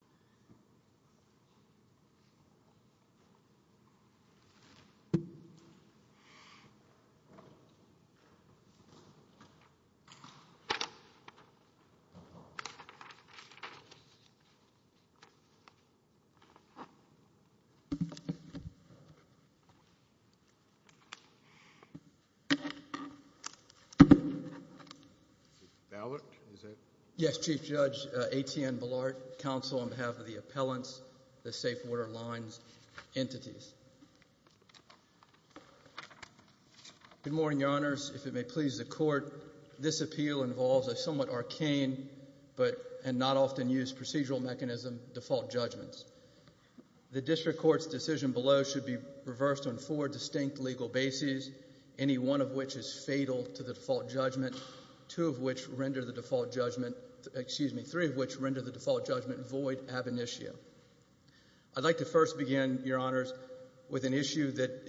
Moller CQ Township Board of Governors Good morning, Your Honors. If it may please the Court, this appeal involves a somewhat arcane and not-often-used procedural mechanism, default judgments. The District Court's decision below should be reversed on four distinct legal bases, any one of which is fatal to the default judgment, three of which render the default judgment void ab initio. I'd like to first begin, Your Honors, with an issue that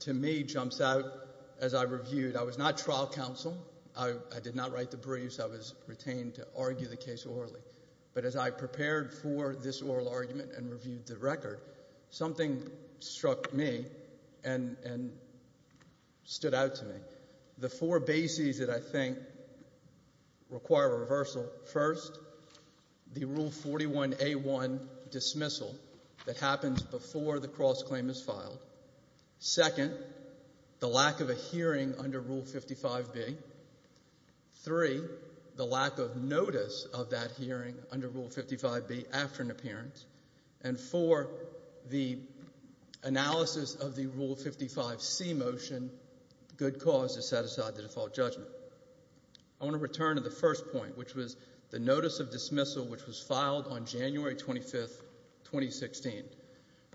to me jumps out as I reviewed. I was not trial counsel. I did not write the briefs. I was retained to argue the case orally. But as I prepared for this oral argument and reviewed the record, something struck me and stood out to me, the four bases that I think require reversal. First, the Rule 41A1 dismissal that happens before the cross-claim is filed. Second, the lack of a hearing under Rule 55B. Three, the lack of notice of that hearing under Rule 55B after an appearance. And four, the analysis of the Rule 55C motion, good cause to set aside the default judgment. I want to return to the first point, which was the notice of dismissal which was filed on January 25, 2016.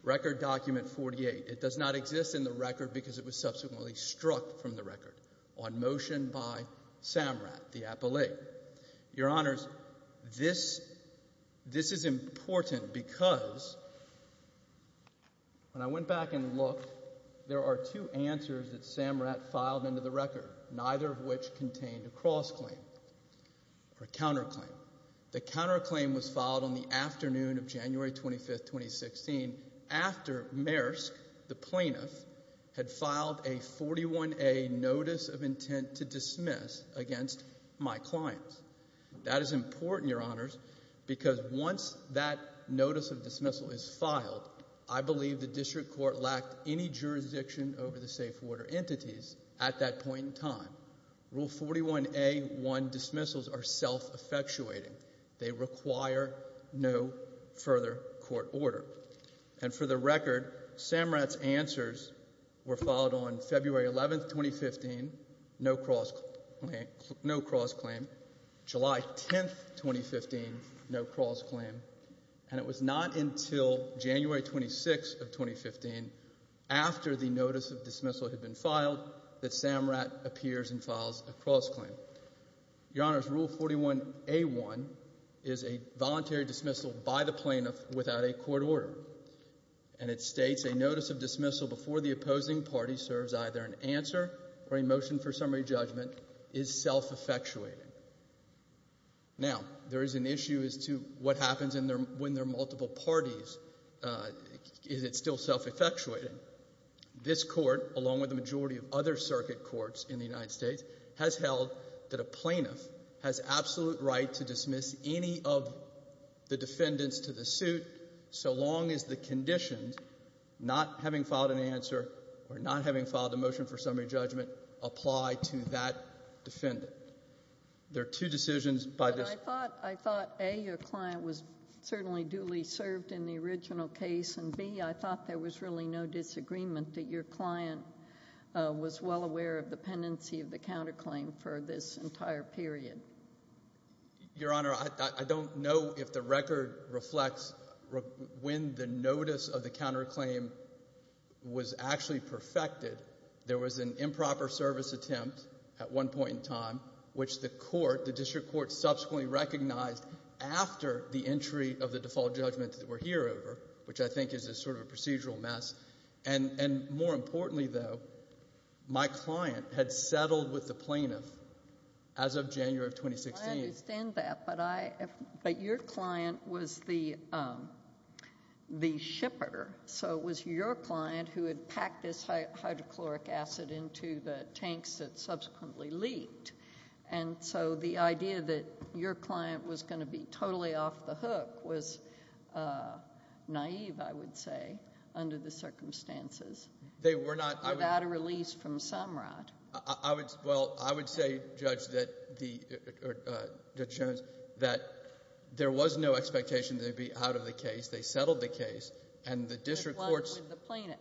Record document 48. It does not exist in the record because it was subsequently struck from the record on motion by Samrat, the appellee. Your Honors, this is important because when I went back and looked, there are two answers that Samrat filed into the record, neither of which contained a cross-claim or a counter-claim. The counter-claim was filed on the afternoon of January 25, 2016 after Maersk, the plaintiff, had filed a 41A notice of intent to dismiss against my clients. That is important, Your Honors, because once that notice of dismissal is filed, I believe the district court lacked any jurisdiction over the safe water entities at that point in time. Rule 41A1 dismissals are self-effectuating. They require no further court order. And for the record, Samrat's answers were filed on February 11, 2015, no cross-claim. And it was not until January 26, 2015, after the notice of dismissal had been filed, that Samrat appears and files a cross-claim. Your Honors, Rule 41A1 is a voluntary dismissal by the plaintiff without a court order. And it states, a notice of dismissal before the opposing party serves either an answer or a motion for summary judgment is self-effectuating. Now, there is an issue as to what happens when there are multiple parties. Is it still self-effectuating? This Court, along with the majority of other circuit courts in the United States, has held that a plaintiff has absolute right to dismiss any of the defendants to the suit so long as the conditions, not having filed an answer or not having filed a motion for summary judgment, apply to that defendant. There are two decisions by this. But I thought, A, your client was certainly duly served in the original case, and B, I thought there was really no disagreement that your client was well aware of the pendency of the counterclaim for this entire period. Your Honor, I don't know if the record reflects when the notice of the counterclaim was actually perfected. There was an improper service attempt at one point in time, which the court, the district court, subsequently recognized after the entry of the default judgment that we're here over, which I think is a sort of procedural mess. And more importantly, though, my client had settled with the plaintiff as of January of 2016. I understand that, but your client was the shipper. So it was your client who had packed this hydrochloric acid into the tanks that subsequently leaked. And so the idea that your client was going to be totally off the hook was naive, I would say, under the circumstances. They were not. Without a release from Samrat. I would say, Judge, that the, Judge Jones, that there was no expectation that they'd be out of the case. They settled the case, and the district court's... They settled with the plaintiff.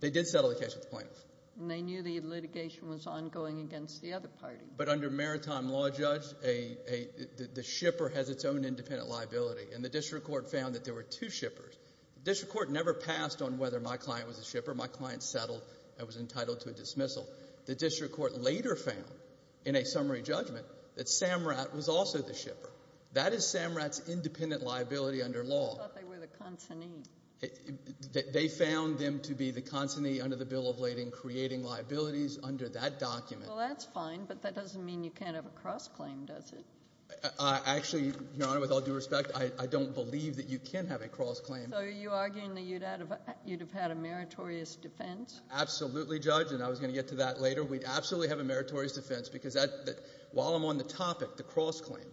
They did settle the case with the plaintiff. And they knew the litigation was ongoing against the other party. But under maritime law, Judge, the shipper has its own independent liability. And the district court found that there were two shippers. The district court never passed on whether my client was a shipper. My client settled and was entitled to a dismissal. The district court later found, in a summary judgment, that Samrat was also the shipper. That is Samrat's independent liability under law. I thought they were the consignee. They found them to be the consignee under the Bill of Lading, creating liabilities under that document. Well, that's fine, but that doesn't mean you can't have a cross-claim, does it? Actually, Your Honor, with all due respect, I don't believe that you can have a cross-claim. So are you arguing that you'd have had a meritorious defense? Absolutely, Judge. And I was going to get to that later. We'd absolutely have a meritorious defense, because while I'm on the topic, the cross-claim,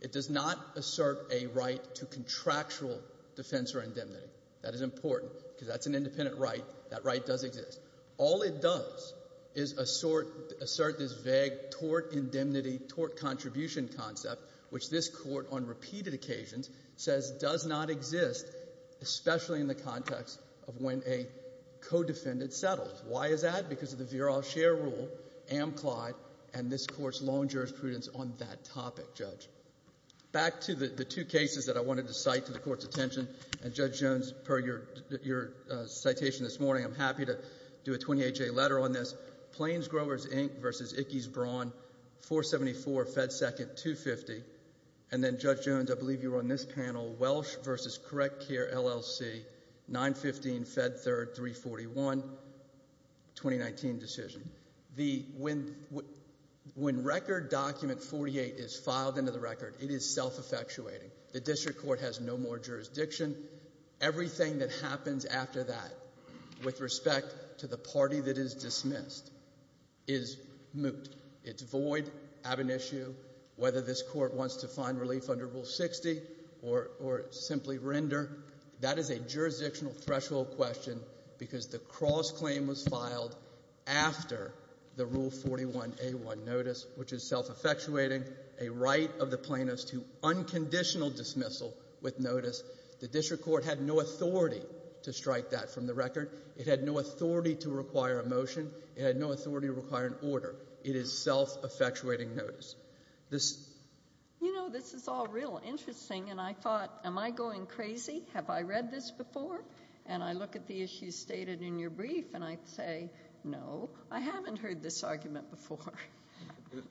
it does not assert a right to contractual defense or indemnity. That is important, because that's an independent right. That right does exist. All it does is assert this vague tort indemnity, tort contribution concept, which this Court, on repeated occasions, says does not exist, especially in the context of when a co-defendant is settled. Why is that? Because of the Veroff Share Rule, Amclyde, and this Court's long jurisprudence on that topic, Judge. Back to the two cases that I wanted to cite to the Court's attention. And, Judge Jones, per your citation this morning, I'm happy to do a 28-day letter on this. Plains Growers Inc. v. Ickes Braun, 474 Fed 2nd, 250. And then, Judge Jones, I believe you were on this one 2019 decision. When Record Document 48 is filed into the Record, it is self-effectuating. The District Court has no more jurisdiction. Everything that happens after that, with respect to the party that is dismissed, is moot. It's void, ab initio, whether this Court wants to find relief under Rule 60 or simply render. That is a jurisdictional threshold question, because the cross-claim was filed after the Rule 41A1 notice, which is self-effectuating, a right of the plaintiffs to unconditional dismissal with notice. The District Court had no authority to strike that from the Record. It had no authority to require a motion. It had no authority to require an order. It is self-effectuating notice. You know, this is all real interesting, and I thought, am I going crazy? Have I read this I think you stated in your brief, and I say, no, I haven't heard this argument before.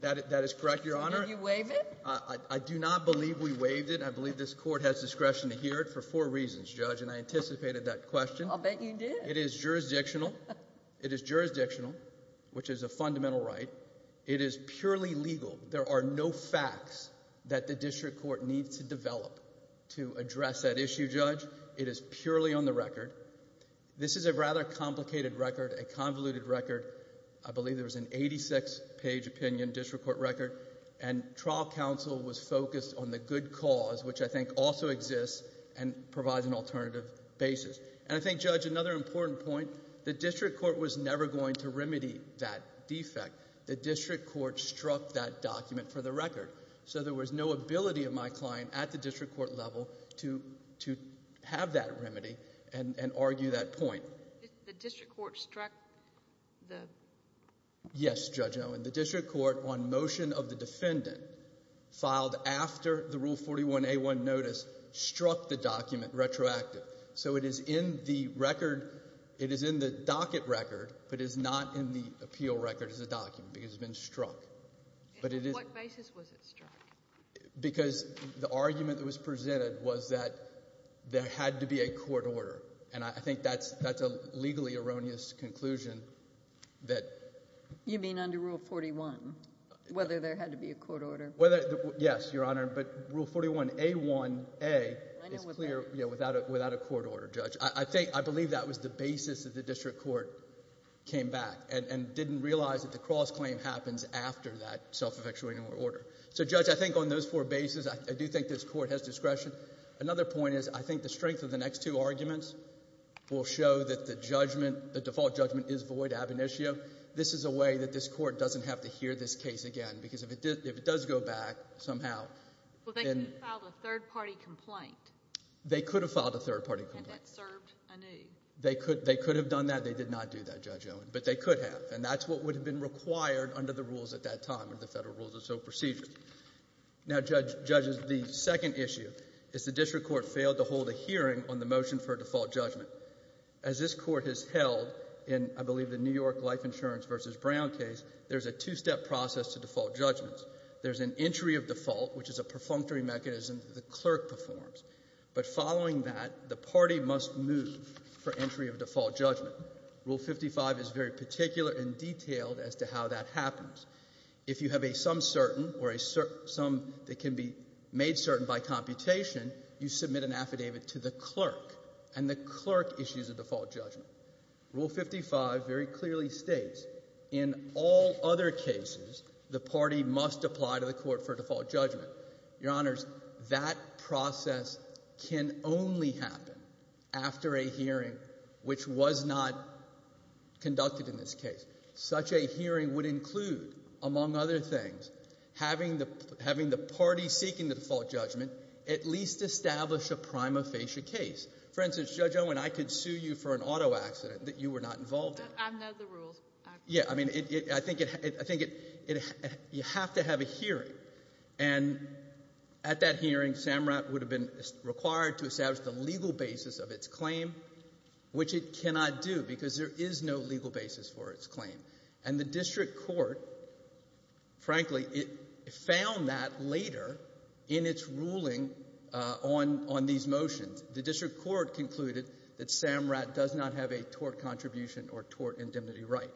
That is correct, Your Honor. Did you waive it? I do not believe we waived it. I believe this Court has discretion to hear it for four reasons, Judge, and I anticipated that question. I'll bet you did. It is jurisdictional. It is jurisdictional, which is a fundamental right. It is purely legal. There are no facts that the District Court needs to develop to This is a rather complicated record, a convoluted record. I believe there was an 86-page opinion District Court record, and trial counsel was focused on the good cause, which I think also exists and provides an alternative basis. And I think, Judge, another important point, the District Court was never going to remedy that defect. The District Court struck that document for the Record, so there was no ability of my client at the District Court level to have that remedy and argue that point. The District Court struck the Yes, Judge Owen. The District Court, on motion of the defendant, filed after the Rule 41 A-1 notice, struck the document retroactively. So it is in the Record, it is in the docket record, but it is not in the appeal record as a document, because it has been struck. What basis was it struck? Because the argument that was presented was that there had to be a court order, and I think that's a legally erroneous conclusion that You mean under Rule 41, whether there had to be a court order? Yes, Your Honor, but Rule 41 A-1A is clear without a court order, Judge. I believe that was the basis that the District Court came back and didn't realize that the cross-claim happens after that self-effectuating order. So, Judge, I think on those four bases, I do think this Court has discretion. Another point is I think the strength of the next two arguments will show that the judgment, the default judgment, is void ab initio. This is a way that this Court doesn't have to hear this case again, because if it does go back somehow Well, they could have filed a third-party complaint. They could have filed a third-party complaint. And that served a need. They could have done that. They did not do that, Judge Owen, but they could have, and that's what would have been required under the rules at that time, under the Federal Rules of Procedure. Now, Judge, the second issue is the District Court failed to hold a hearing on the motion for a default judgment. As this Court has held in, I believe, the New York Life Insurance v. Brown case, there's a two-step process to default judgments. There's an entry of default, which is a perfunctory mechanism that the clerk performs. But following that, the party must move for entry of default judgment. Rule 55 is very particular and detailed as to how that happens. If you have a some certain or a some that can be made certain by computation, you submit an affidavit to the clerk, and the clerk issues a default judgment. Rule 55 very clearly states in all other cases, the party must apply to the Court for a default judgment. Your Honors, that process can only happen after a hearing which was not conducted in this case. Such a hearing would include, among other things, having the party seeking the default judgment at least establish a prima facie case. For instance, Judge Owen, I could sue you for an auto accident that you were not involved in. I've known the rules. Yeah. I mean, I think you have to have a hearing. And at that hearing, SAMRAT would have been required to establish the legal basis of its claim, which it cannot do because there is no legal basis for its claim. And the District Court, frankly, found that later in its ruling on these motions. The District Court concluded that SAMRAT does not have a tort contribution or tort indemnity right.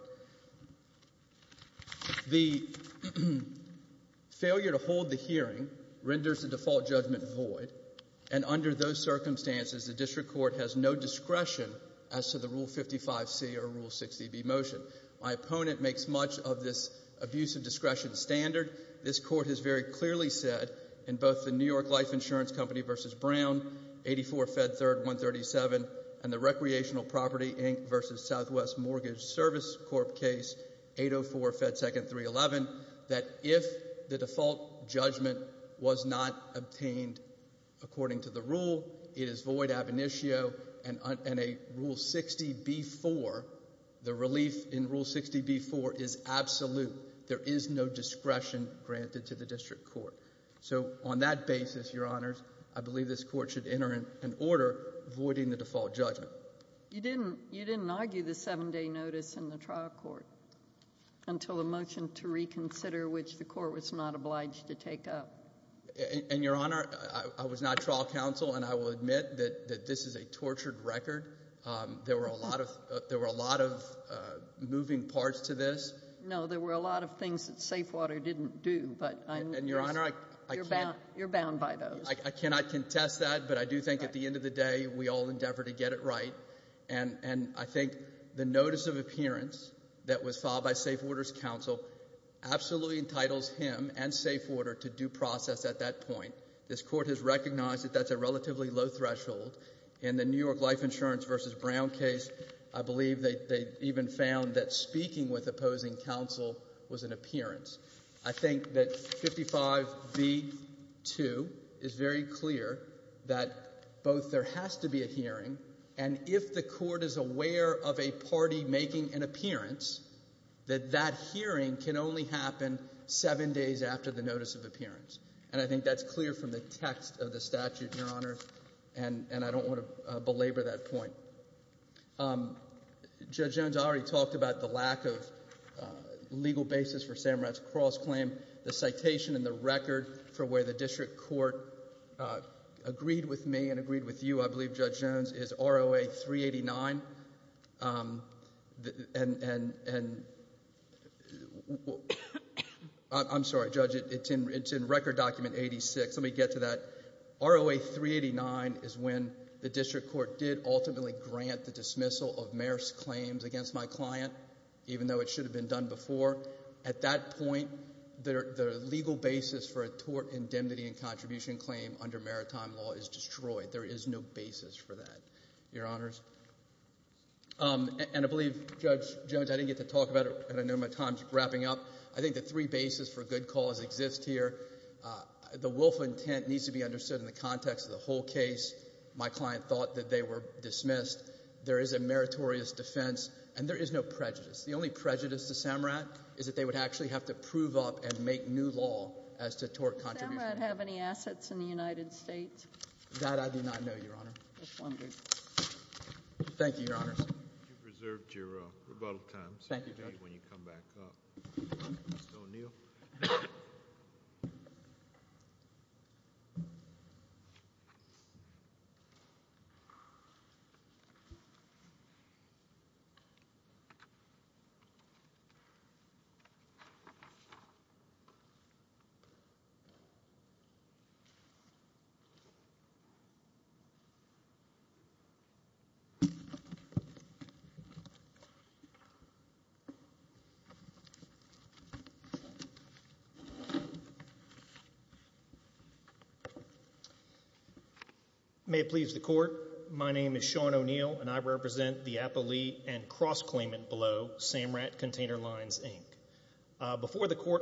The failure to hold the hearing renders the default judgment void. And under those circumstances, the District Court has no discretion as to the Rule 55c or Rule 60b motion. My opponent makes much of this abuse of discretion standard. This Court has very clearly said in both the New York Life Insurance Company v. Brown, 84 Fed 3rd 137, and the Recreational Property, Inc. v. Southwest Mortgage Service Corp. case, 804 Fed 2nd 311, that if the default judgment was not obtained according to the rule, it is void ab initio and a Rule 60b-4, the relief in Rule 60b-4 is absolute. There is no discretion granted to the District Court. So on that basis, Your Honors, I believe this Court should enter an order voiding the default judgment. You didn't argue the 7-day notice in the trial court until the motion to reconsider, which the Court was not obliged to take up. And Your Honor, I was not trial counsel, and I will admit that this is a tortured record. There were a lot of moving parts to this. No, there were a lot of things that Judge Waters didn't do. And Your Honor, I cannot contest that, but I do think at the end of the day, we all endeavor to get it right. And I think the notice of appearance that was filed by Safewater's counsel absolutely entitles him and Safewater to due process at that point. This Court has recognized that that's a relatively low threshold. In the New York Life Insurance v. Brown case, I believe they even found that speaking with opposing counsel was an unwise move. I think that 55 v. 2 is very clear that both there has to be a hearing, and if the Court is aware of a party making an appearance, that that hearing can only happen 7 days after the notice of appearance. And I think that's clear from the text of the statute, Your Honor, and I don't want to belabor that point. Judge Jones already talked about the lack of legal basis for Samrat's cross-claim. The citation in the record for where the district court agreed with me and agreed with you, I believe, Judge Jones, is ROA 389. I'm sorry, Judge, it's in Record Document 86. Let me get to that. ROA 389 is when the district court did ultimately grant the dismissal of Mayor's claims against my client, even though it should have been done before. At that point, the legal basis for a tort indemnity and contribution claim under maritime law is destroyed. There is no basis for that, Your Honors. And I believe, Judge Jones, I didn't get to talk about it, and I know my time is wrapping up. I think the three bases for good cause exist here. The willful intent needs to be understood in the context of the whole case. My client thought that they were dismissed. There is a meritorious defense, and there is no prejudice. The only prejudice to Samrat is that they would actually have to prove up and make new law as to tort contribution. Does Samrat have any assets in the United States? That I do not know, Your Honor. Thank you, Your Honors. You've reserved your rebuttal time. Thank you, Judge. Thank you, Your Honor. Before the court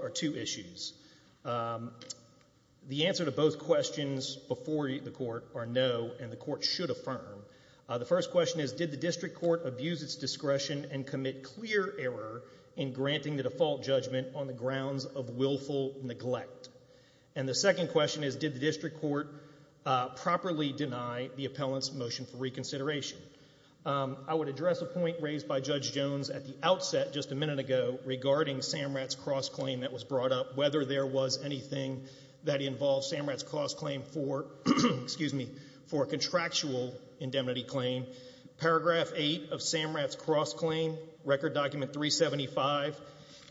are two issues. The answer to both questions before the court are no, and the court should affirm. The first question is, did the district court abuse its discretion and commit clear error in granting the default judgment on the grounds of willful neglect? And the second question is, did the district court properly deny the appellant's motion for reconsideration? I would address a point raised by Judge Jones at the outset just a minute ago regarding Samrat's cross-claim that was brought up, whether there was anything that involved Samrat's cross-claim for, excuse me, for a contractual indemnity claim. Paragraph 8 of Samrat's cross-claim, Record Document 375,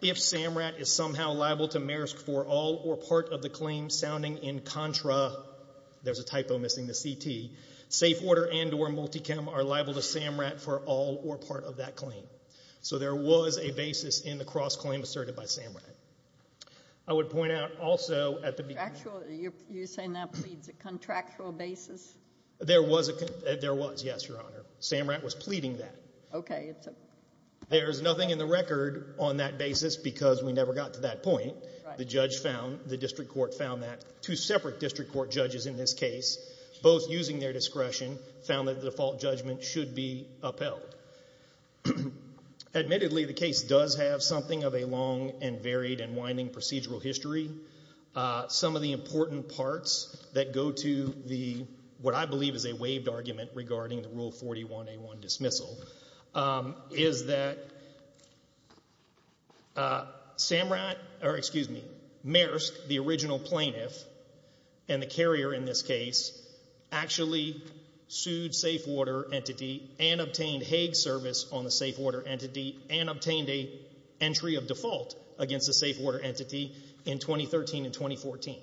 if Samrat is somehow liable to maersk for all or part of the claim sounding in contra, there's a typo missing, the CT, safe order and or multicam are liable to Samrat for all or part of that claim. So there was a basis in the cross-claim asserted by Samrat. I would point out also at the beginning. You're saying that pleads a contractual basis? There was, yes, Your Honor. Samrat was pleading that. Okay. There's nothing in the record on that basis because we never got to that point. The judge found, the district court found that, two separate district court judges in this case, both using their discretion, found that the default judgment should be upheld. Admittedly, the case does have something of a long and varied and winding procedural history. Some of the important parts that go to the, what I believe is a waived argument regarding the Rule of Law is that Samrat, or excuse me, maersk, the original plaintiff and the carrier in this case, actually sued safe order entity and obtained Hague service on the safe order entity and obtained a entry of default against the safe order entity in 2013 and 2014.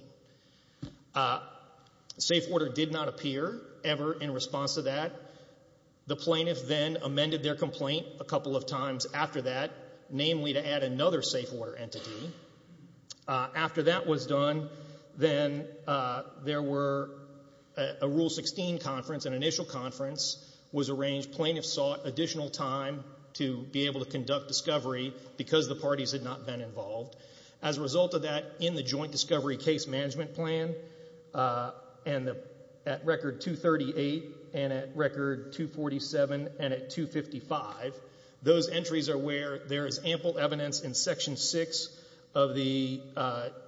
Safe order did not appear ever in response to that. The plaintiff then amended their complaint a couple of times after that, namely to add another safe order entity. After that was done, then there were, a Rule 16 conference, an initial conference was arranged. Plaintiffs sought additional time to be able to conduct discovery because the parties had not been involved. As a result of that, in the joint discovery case management plan, at record 238 and at record 247 and at 255, those entries are where there is ample evidence in section 6 of the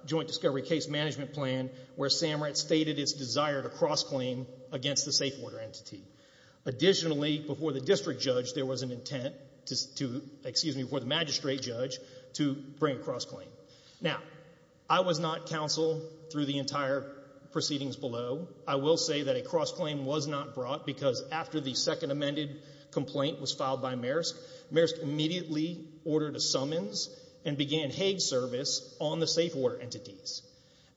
joint discovery case management plan where Samrat stated his desire to cross-claim against the safe order entity. Additionally, before the district judge, there was an intent to, excuse me, before the magistrate judge to bring a cross-claim. Now, I was not counsel through the entire proceedings below. I will say that a cross-claim was not brought because after the second amended complaint was filed by Maersk, Maersk immediately ordered a summons and began Hague service on the safe order entities.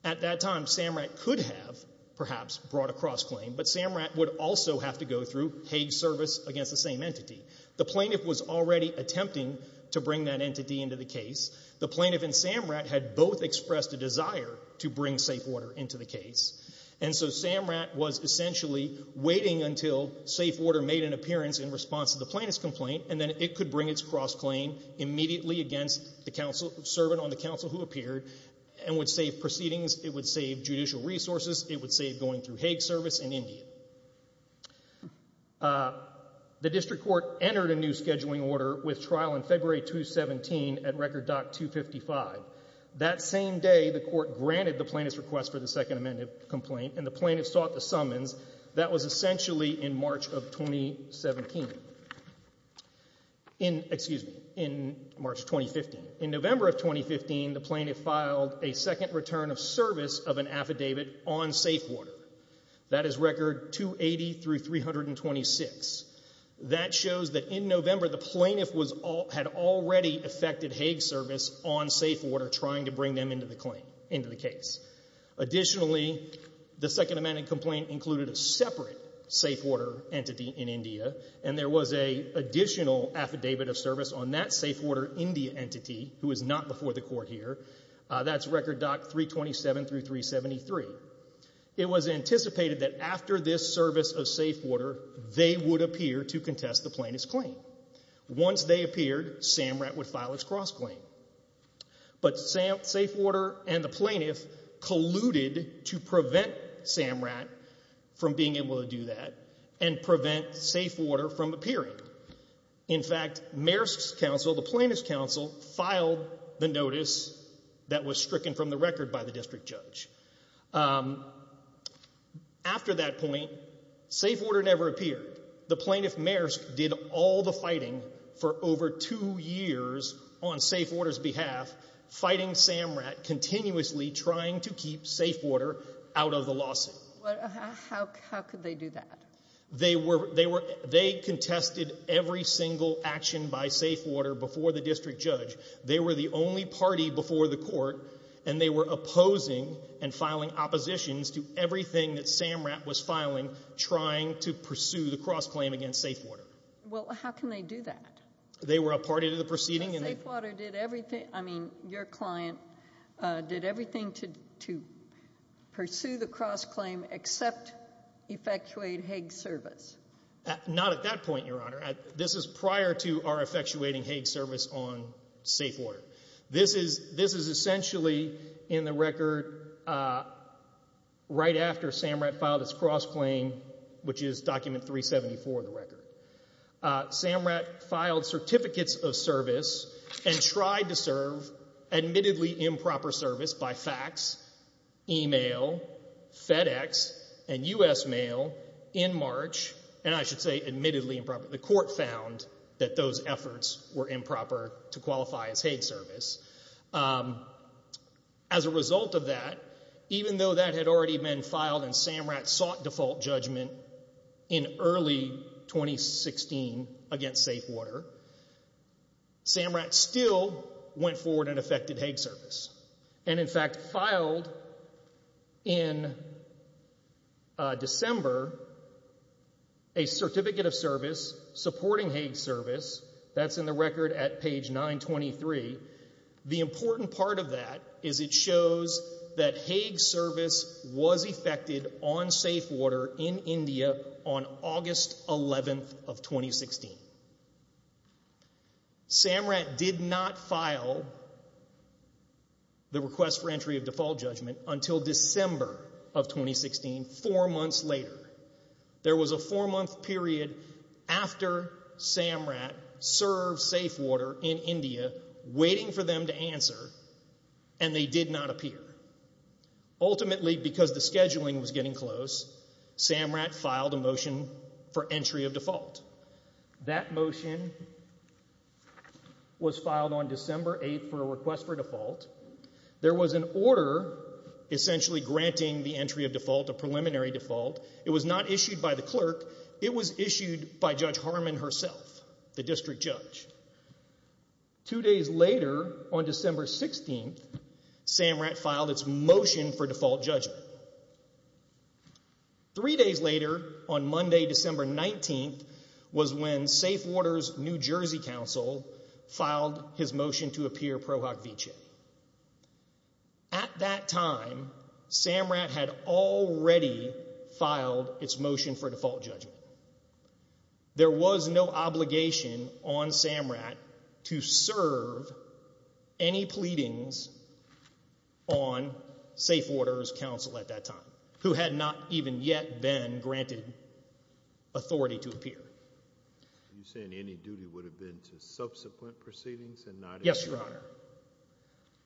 At that time, Samrat could have perhaps brought a cross-claim, but Samrat would also have to go through Hague service against the same entity. The plaintiff was already attempting to bring that entity into the case. The plaintiff and Samrat had both expressed a desire to bring safe order into the case. And so Samrat was essentially waiting until safe order made an appearance in response to the plaintiff's complaint, and then it could bring its cross-claim immediately against the counsel, servant on the counsel who appeared and would save proceedings. It would save judicial resources. It would save going through Hague service in India. The district court entered a new scheduling order with trial in February 2017 at record doc 255. That same day, the court granted the plaintiff's request for the second amended complaint, and the plaintiff sought the summons. That was essentially in March of 2017. In, excuse me, in March 2015. In November of 2015, the plaintiff filed a second return of service of an affidavit on safe order. That is record 280 through 326. That shows that in November, the plaintiff was, had already affected Hague service on safe order trying to bring them into the claim, into the case. Additionally, the second amended complaint included a separate safe order entity in India, and there was a additional affidavit of service on that safe order India entity who is not before the court here. That's record doc 327 through 373. It was anticipated that after this service of safe order, they would appear to contest the plaintiff's claim. Once they appeared, SAMRAT would file its cross-claim. But safe order and the plaintiff colluded to prevent SAMRAT from being able to do that and prevent safe order from appearing. In fact, Mayor's Council, the Plaintiff's Council, filed the notice that was stricken from the record by the district judge. After that point, safe order never appeared. The Plaintiff Mayor's did all the fighting for over two years on safe order's behalf, fighting SAMRAT, continuously trying to keep safe order out of the lawsuit. How could they do that? They were, they were, they contested every single action by safe order before the district judge. They were the only party before the court, and they were opposing and filing oppositions to everything that SAMRAT was filing, trying to pursue the cross-claim against safe order. Well, how can they do that? They were a party to the proceeding. And safe order did everything, I mean, your client did everything to, to pursue the cross-claim except effectuate Hague's service. Not at that point, Your Honor. This is prior to our effectuating Hague's service on safe order. This is, this is essentially in the record right after SAMRAT filed its cross-claim, which is document 374 of the record. SAMRAT filed certificates of service and tried to serve admittedly improper service by fax, email, FedEx, and U.S. Mail in March, and I should say admittedly improper. The court found that those efforts were improper to qualify as Hague service. As a result of that, even though that had already been filed and SAMRAT sought default judgment in early 2016 against safe order, SAMRAT still went forward and effected Hague service. And in fact, filed in December a certificate of service supporting Hague's service, that's in the record at page 923. The important part of that is it shows that Hague's service was effected on safe order in India on August 11th of 2016. SAMRAT did not file the request for entry of default judgment until December of 2016, four months later. There was a four-month period after SAMRAT served safe order in India, waiting for them to answer, and they did not appear. Ultimately, because the scheduling was getting close, SAMRAT filed a motion for entry of default. That motion was filed on December 8th for a request for default. There was an order essentially granting the entry of default, a preliminary default. It was not issued by the clerk. It was issued by Judge Harman herself, the district judge. Two days later, on December 16th, SAMRAT filed its motion for default judgment. Three days later, on Monday, December 19th, was when safe order's New Jersey counsel filed his motion to appear. SAMRAT had already filed its motion for default judgment. There was no obligation on SAMRAT to serve any pleadings on safe order's counsel at that time, who had not even yet been granted authority to appear. You're saying any duty would have been to subsequent proceedings and not... Yes, Your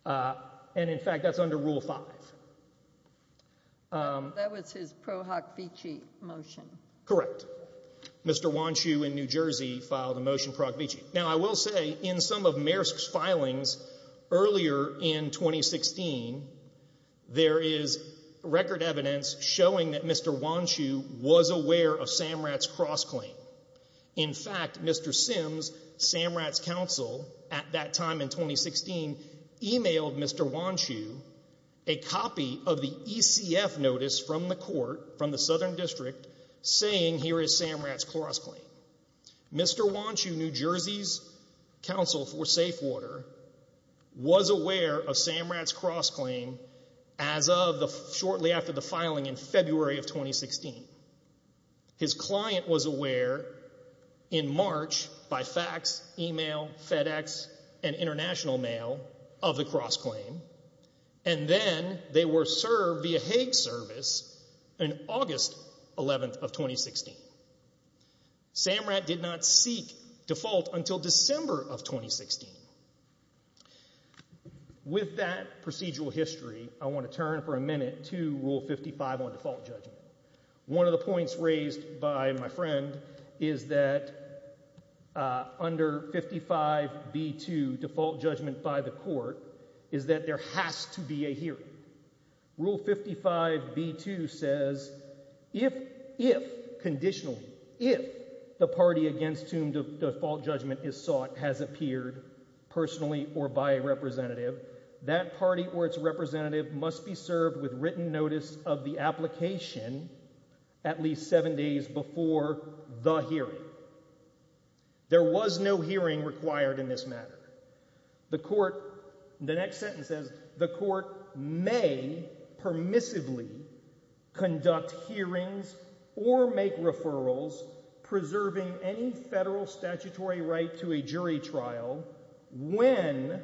Honor. And, in fact, that's under Rule 5. That was his Pro Hoc Vici motion. Correct. Mr. Wanchu in New Jersey filed a motion Pro Hoc Vici. Now, I will say, in some of Maersk's filings earlier in In fact, Mr. Sims, SAMRAT's counsel at that time in 2016, emailed Mr. Wanchu a copy of the ECF notice from the court, from the Southern District, saying here is SAMRAT's cross-claim. Mr. Wanchu, New Jersey's counsel for safe order, was aware of SAMRAT's cross-claim as of shortly after the filing in February of 2016. His client was aware in March by fax, email, FedEx, and international mail of the cross-claim, and then they were served via Hague service on August 11th of 2016. SAMRAT did not seek default until December of 2016. With that procedural history, I want to turn for a minute to Rule 55 on default judgment. One of the points raised by my friend is that under 55b2 default judgment by the court is that there has to be a hearing. Rule 55b2 says if, if, conditionally, if the party against whom default judgment is sought has appeared personally or by a representative, that party or its representative must be served with written notice of the application at least seven days before the hearing. There was no hearing required in this matter. The court, the next sentence says, the court may permissively conduct hearings or make referrals preserving any federal statutory right to a jury trial when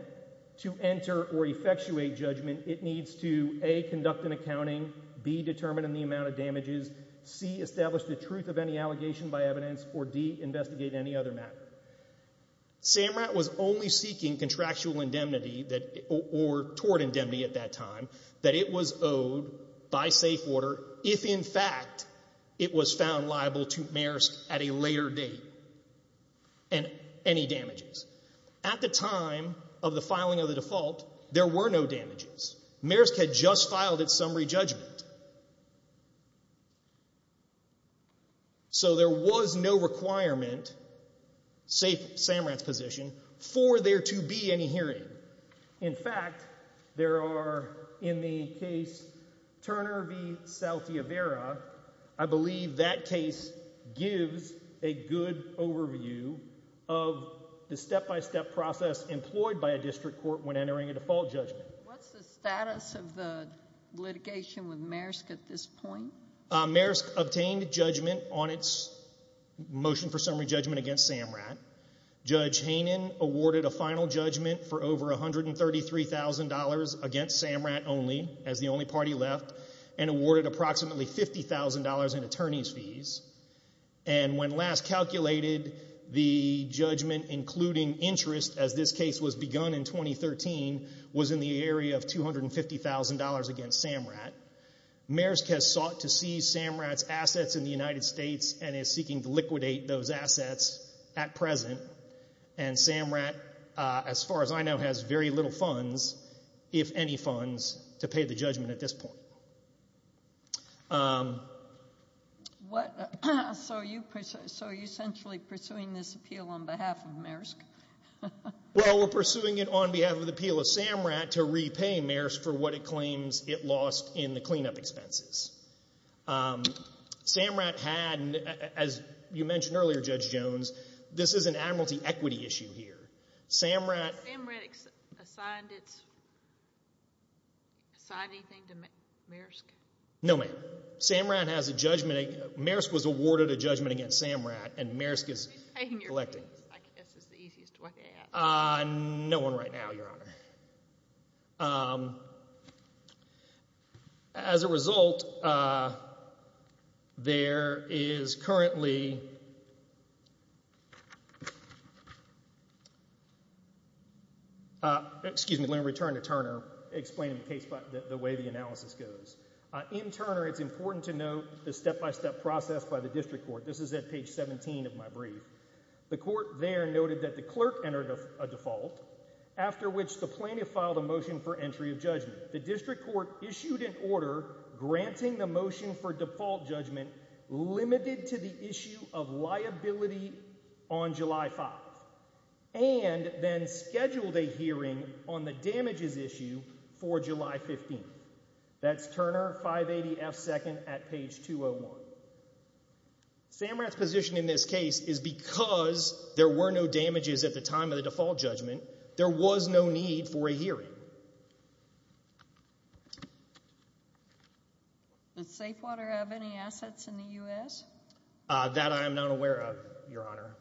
to enter or effectuate judgment it needs to a conduct an accounting, b determine the amount of damages, c establish the truth of any allegation by evidence, or d investigate any other matter. SAMRAT was only seeking contractual indemnity that or toward indemnity at that time that it was owed by safe order if in fact it was found liable to mayors at a later date and any damages. At the time of the filing of the default, there were no damages. Maersk had just filed its summary judgment. So there was no requirement, save SAMRAT's position, for there to be any hearing. In fact, there are in the case Turner v. Saltievera, I believe that case gives a good overview of the step-by-step process employed by a district court when entering a default judgment. What's the status of the litigation with Maersk at this point? Maersk obtained judgment on its motion for summary judgment against SAMRAT. Judge Hainan awarded a final judgment for over $133,000 against SAMRAT only, as the only party left, and awarded approximately $50,000 in attorney's fees. And when last calculated, the judgment including interest, as this case was begun in 2013, was in the area of $250,000 against SAMRAT. Maersk has sought to seize SAMRAT's assets in the United States, and is seeking to liquidate those assets at present. And SAMRAT, as far as I know, has very little funds, if any funds, to pay the judgment at this point. So are you essentially pursuing this appeal on behalf of Maersk? Well, we're pursuing it on behalf of the appeal of SAMRAT to repay Maersk for what it claims it lost in the cleanup expenses. SAMRAT had, as you mentioned earlier, Judge Jones, this is an admiralty equity issue here. SAMRAT— Has SAMRAT assigned its—assigned anything to Maersk? No, ma'am. SAMRAT has a judgment—Maersk was awarded a judgment against SAMRAT, and Maersk is— Is it paying your fees? I guess is the easiest way to ask. No one right now, Your Honor. As a result, there is currently— excuse me, let me return to Turner, explain the case by the way the analysis goes. In Turner, it's important to note the step-by-step process by the district court. This is at page 17 of my report, a default, after which the plaintiff filed a motion for entry of judgment. The district court issued an order granting the motion for default judgment, limited to the issue of liability on July 5th, and then scheduled a hearing on the damages issue for July 15th. That's Turner, 580F, second at page 201. SAMRAT's position in this case is because there were no damages at the time of the default judgment, there was no need for a hearing. Does Safewater have any assets in the U.S.? That I am not aware of, Your Honor.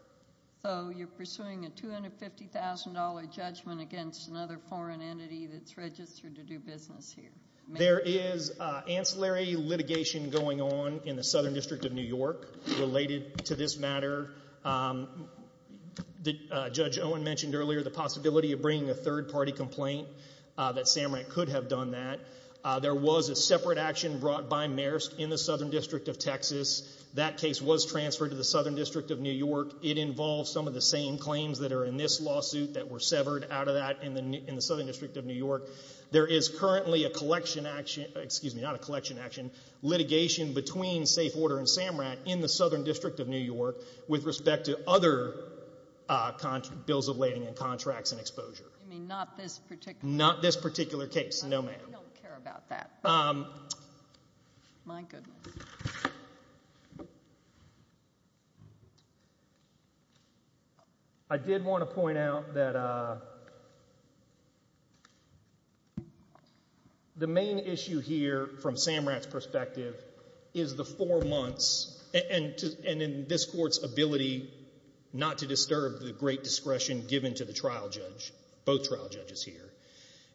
So you're pursuing a $250,000 judgment against another foreign entity that's registered to do business here? There is ancillary litigation going on in the Southern District of New York related to this matter. Judge Owen mentioned earlier the possibility of bringing a third-party complaint, that SAMRAT could have done that. There was a separate action brought by Maersk in the Southern District of Texas. That case was transferred to the Southern District of New York. It involves some of the same claims that are in this lawsuit that were severed out of that in the Southern District of New York. There is currently a collection action, excuse me, not a collection action in the Southern District of New York with respect to other bills of lading and contracts and exposure. You mean not this particular case? Not this particular case, no ma'am. I don't care about that. My goodness. I did want to point out that the main issue here from SAMRAT's perspective is the four months, and in this court's ability not to disturb the great discretion given to the trial judge, both trial judges here,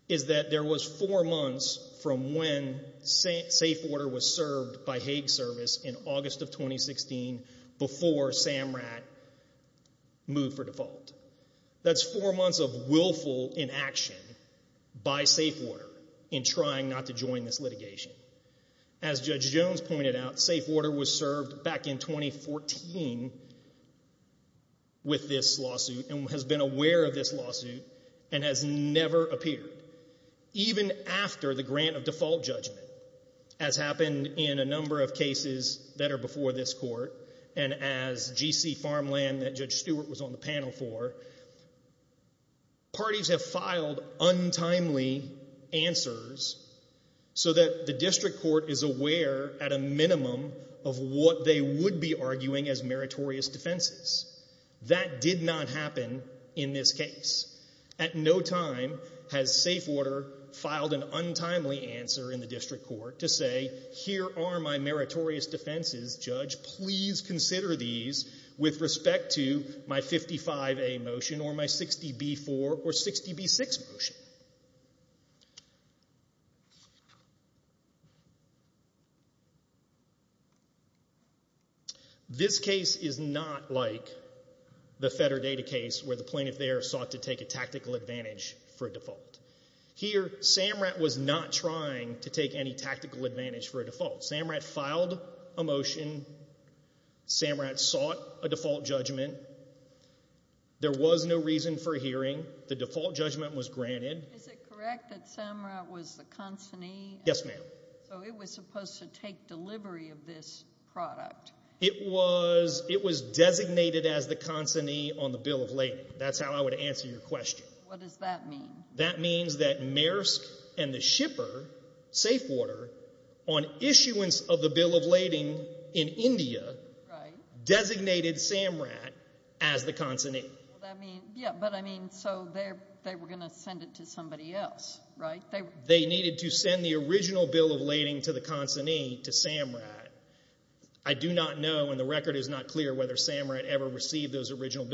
is that there was four months from when safe order was served by Hague Service in August of 2016 before SAMRAT moved for default. That's four months of willful inaction by safe order in trying not to join this litigation. As Judge Jones pointed out, safe order was served back in 2014 with this lawsuit and has been aware of this lawsuit and has never appeared. Even after the grant of default judgment, as happened in a number of cases that are before this court and as GC Farmland that Judge Stewart was on the panel for, parties have filed untimely answers so that the district court is aware at a minimum of what they would be arguing as meritorious defenses. That did not happen in this case. At no time has safe order filed an untimely answer in the district court to say, here are my meritorious defenses, Judge, please consider these with respect to my 55A motion or my 60B4 or 60B6 motion. This case is not like the FederData case where the plaintiff there sought to take a tactical advantage for default. Here, SAMRAT was not trying to take any tactical advantage for a default. SAMRAT filed a motion. SAMRAT sought a default judgment. There was no reason for hearing. The default judgment was granted. Is it correct that SAMRAT was the consignee? Yes, ma'am. So it was supposed to take delivery of this product? It was designated as the consignee on the bill of lading. That's how I would answer your question. What does that mean? That means that Maersk and the shipper, Safewater, on issuance of the bill of lading in India, designated SAMRAT as the consignee. Yeah, but I mean, so they were going to send it to somebody else, right? They needed to send the original bill of lading to the consignee, to SAMRAT. I do not know, and the record is not clear, whether SAMRAT ever received those original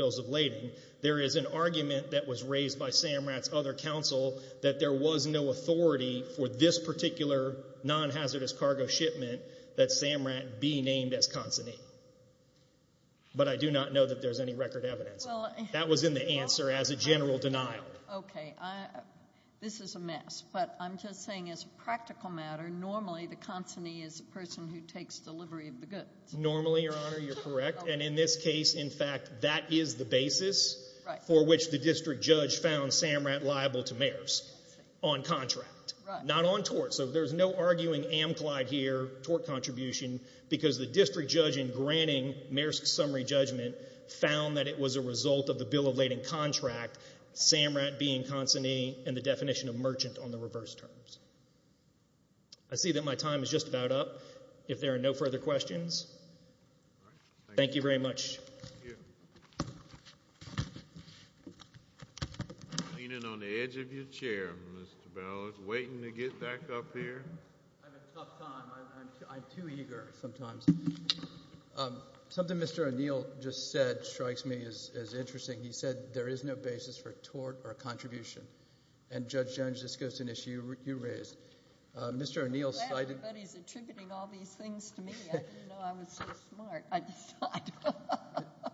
other counsel, that there was no authority for this particular non-hazardous cargo shipment that SAMRAT be named as consignee. But I do not know that there's any record evidence. That was in the answer as a general denial. Okay, this is a mess, but I'm just saying as a practical matter, normally the consignee is the person who takes delivery of the goods. Normally, Your Honor, you're correct. And in this case, in fact, that is the basis for which the district judge found SAMRAT liable to Maersk on contract, not on tort. So there's no arguing Amclyde here, tort contribution, because the district judge in granting Maersk's summary judgment found that it was a result of the bill of lading contract, SAMRAT being consignee, and the definition of merchant on the reverse terms. I see that my time is just about up, if there are no further questions. All right. Thank you very much. Thank you. Leaning on the edge of your chair, Mr. Bell. Waiting to get back up here. I have a tough time. I'm too eager sometimes. Something Mr. O'Neill just said strikes me as interesting. He said, there is no basis for tort or contribution. And Judge Jones, this goes to an issue you raised. Mr. O'Neill cited— I didn't know I was so smart.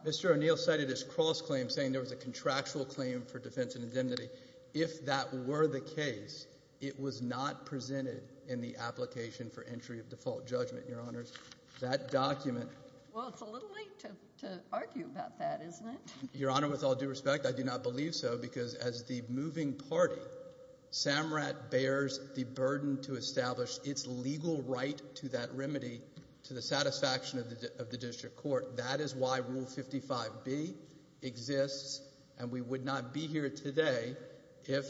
Mr. O'Neill cited his cross-claim, saying there was a contractual claim for defense indemnity. If that were the case, it was not presented in the application for entry of default judgment, Your Honors. That document— Well, it's a little late to argue about that, isn't it? Your Honor, with all due respect, I do not believe so, because as the moving party, Samrat bears the burden to establish its legal right to that remedy to the satisfaction of the district court. That is why Rule 55B exists, and we would not be here today if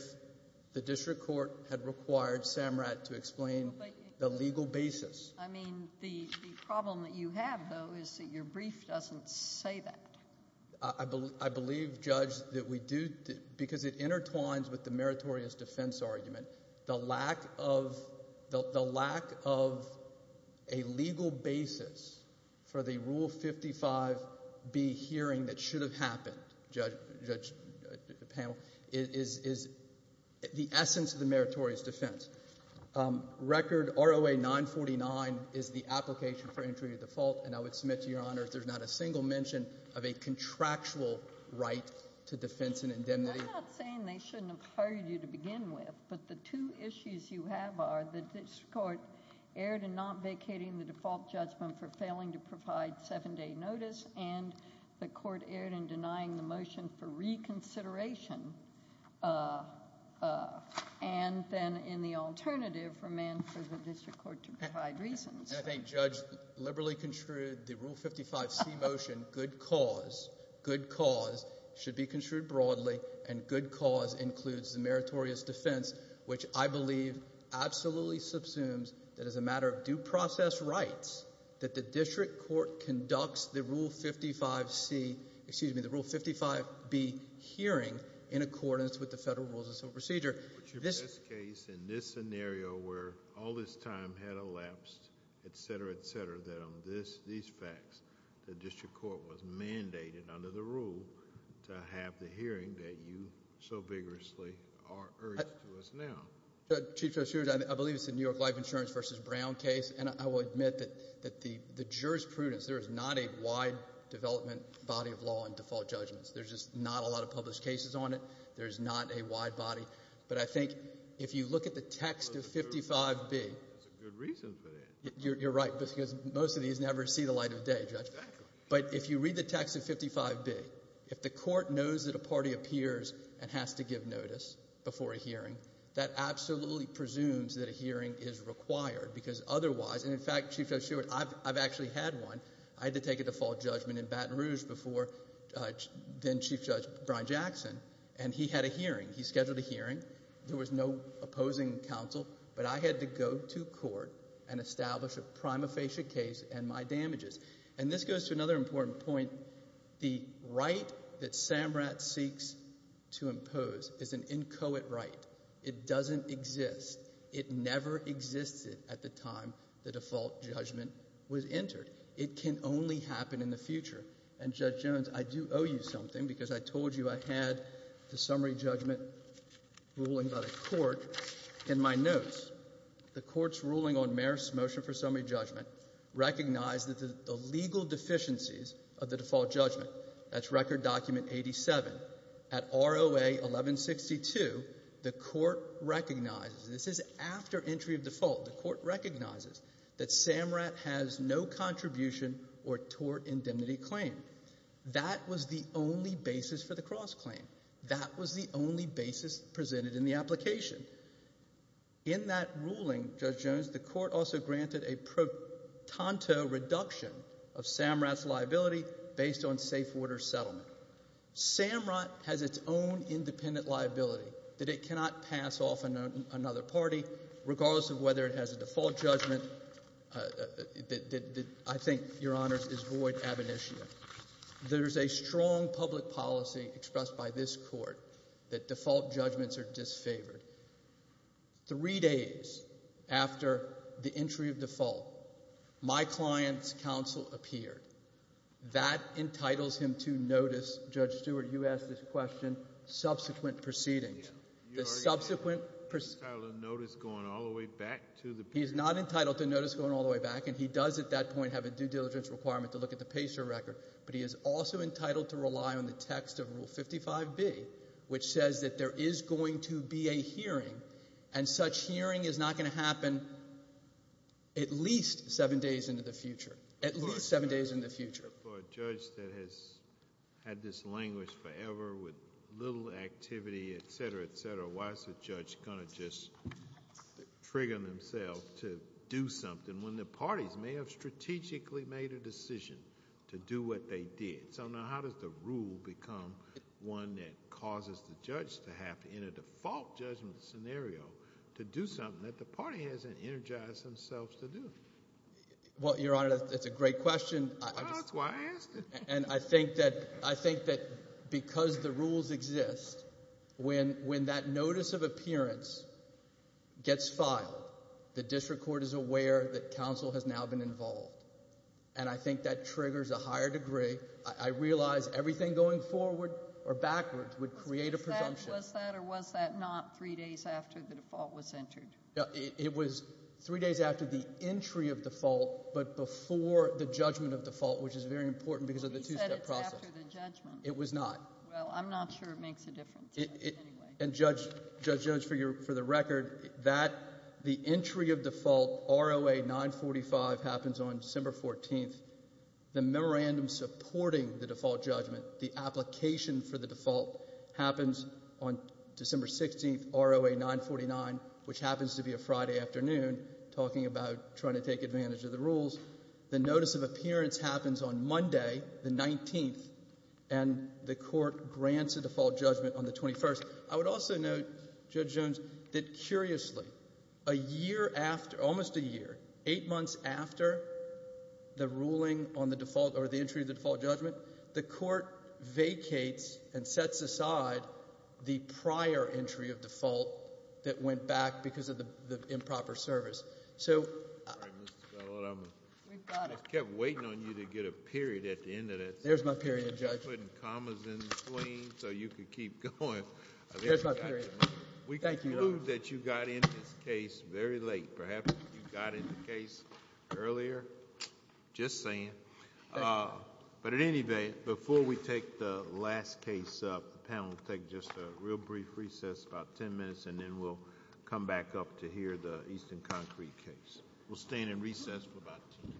the district court had required Samrat to explain the legal basis. I mean, the problem that you have, though, is that your brief doesn't say that. I believe, Judge, that we do, because it intertwines with the meritorious defense argument. The lack of—the lack of a legal basis for the Rule 55B hearing that should have happened, Judge—Judge Panel, is the essence of the meritorious defense. Record ROA 949 is the application for entry to default, and I would submit to Your Honors there's not a single mention of a contractual right to defense and indemnity. We're not saying they shouldn't have hired you to begin with, but the two issues you have are the district court erred in not vacating the default judgment for failing to provide seven-day notice, and the court erred in denying the motion for reconsideration, and then in the alternative, remanded for the district court to provide reasons. I think, Judge, liberally construed, the Rule 55C motion, good cause, good cause, should be construed broadly, and good cause includes the meritorious defense, which I believe absolutely subsumes that as a matter of due process rights, that the district court conducts the Rule 55C—excuse me, the Rule 55B hearing in accordance with the Federal Rules of Procedure. In this case, in this scenario where all this time had elapsed, et cetera, et cetera, that on these facts, the district court was mandated under the Rule to have the hearing that you so vigorously urged to us now. Chief Judge Hughes, I believe it's the New York Life Insurance v. Brown case, and I will admit that the jurisprudence, there is not a wide development body of law in default judgments. There's just not a lot of published cases on it. There's not a wide body, but I think if you look at the text of 55B— That's a good reason for that. You're right, because most of these never see the light of day, Judge. Exactly. But if you read the text of 55B, if the court knows that a party appears and has to give notice before a hearing, that absolutely presumes that a hearing is required, because otherwise—and in fact, Chief Judge Sheward, I've actually had one. I had to take a default judgment in Baton Rouge before then-Chief Judge Brian Jackson, and he had a hearing. He scheduled a hearing. There was no opposing counsel, but I had to go to court and establish a prima facie case and my damages. And this goes to another important point. The right that SAMRAT seeks to impose is an inchoate right. It doesn't exist. It never existed at the time the default judgment was entered. It can only happen in the future. And Judge Jones, I do owe you something, because I told you I had the summary judgment ruling by the court in my notes. The court's ruling on Marist's motion for summary judgment recognized that the legal deficiencies of the default judgment—that's Record Document 87—at ROA 1162, the court recognizes—this is after entry of default—the court recognizes that SAMRAT has no contribution or tort indemnity claim. That was the only basis for the cross-claim. That was the only basis presented in the application. In that ruling, Judge Jones, the court also granted a pro tanto reduction of SAMRAT's liability based on safe order settlement. SAMRAT has its own independent liability that it cannot pass off another party, regardless of whether it has a default judgment that I think, Your Honors, is void ab initio. There's a strong public policy expressed by this Court that default judgments are disfavored. Three days after the entry of default, my client's counsel appeared. That entitles him to notice, Judge Stewart, you asked this question, subsequent proceedings. The subsequent— He's entitled to notice going all the way back to the— He's not entitled to notice going all the way back, and he does at that point have a due diligence requirement to look at the PACER record, but he is also entitled to rely on the text of Rule 55B, which says that there is going to be a hearing, and such hearing is not going to happen at least seven days into the future, at least seven days into the future. For a judge that has had this languished forever with little activity, et cetera, et cetera, why is the judge going to just trigger himself to do something when the parties may have made a decision to do what they did? So now how does the rule become one that causes the judge to have, in a default judgment scenario, to do something that the party hasn't energized themselves to do? Well, Your Honor, that's a great question. Well, that's why I asked it. And I think that because the rules exist, when that notice of appearance gets filed, the district court is aware that counsel has now been involved. And I think that triggers a higher degree. I realize everything going forward or backwards would create a presumption. Was that or was that not three days after the default was entered? It was three days after the entry of default, but before the judgment of default, which is very important because of the two-step process. But he said it's after the judgment. It was not. Well, I'm not sure it makes a difference anyway. And, Judge, for the record, the entry of default, ROA 945, happens on December 14th. The memorandum supporting the default judgment, the application for the default, happens on December 16th, ROA 949, which happens to be a Friday afternoon, talking about trying to take advantage of the rules. The notice of appearance happens on Monday, the 19th, and the court grants a default judgment on the 21st. I would also note, Judge Jones, that curiously, a year after, almost a year, eight months after the ruling on the default or the entry of the default judgment, the court vacates and sets aside the prior entry of default that went back because of the improper service. So— All right, Mr. Spillett, I kept waiting on you to get a period at the end of that. There's my period, Judge. Putting commas in the screen so you could keep going. There's my period. We conclude that you got into this case very late. Perhaps you got into the case earlier. Just saying. But at any rate, before we take the last case up, the panel will take just a real brief recess, about ten minutes, and then we'll come back up to hear the Easton Concrete case. We'll stand in recess for about ten minutes.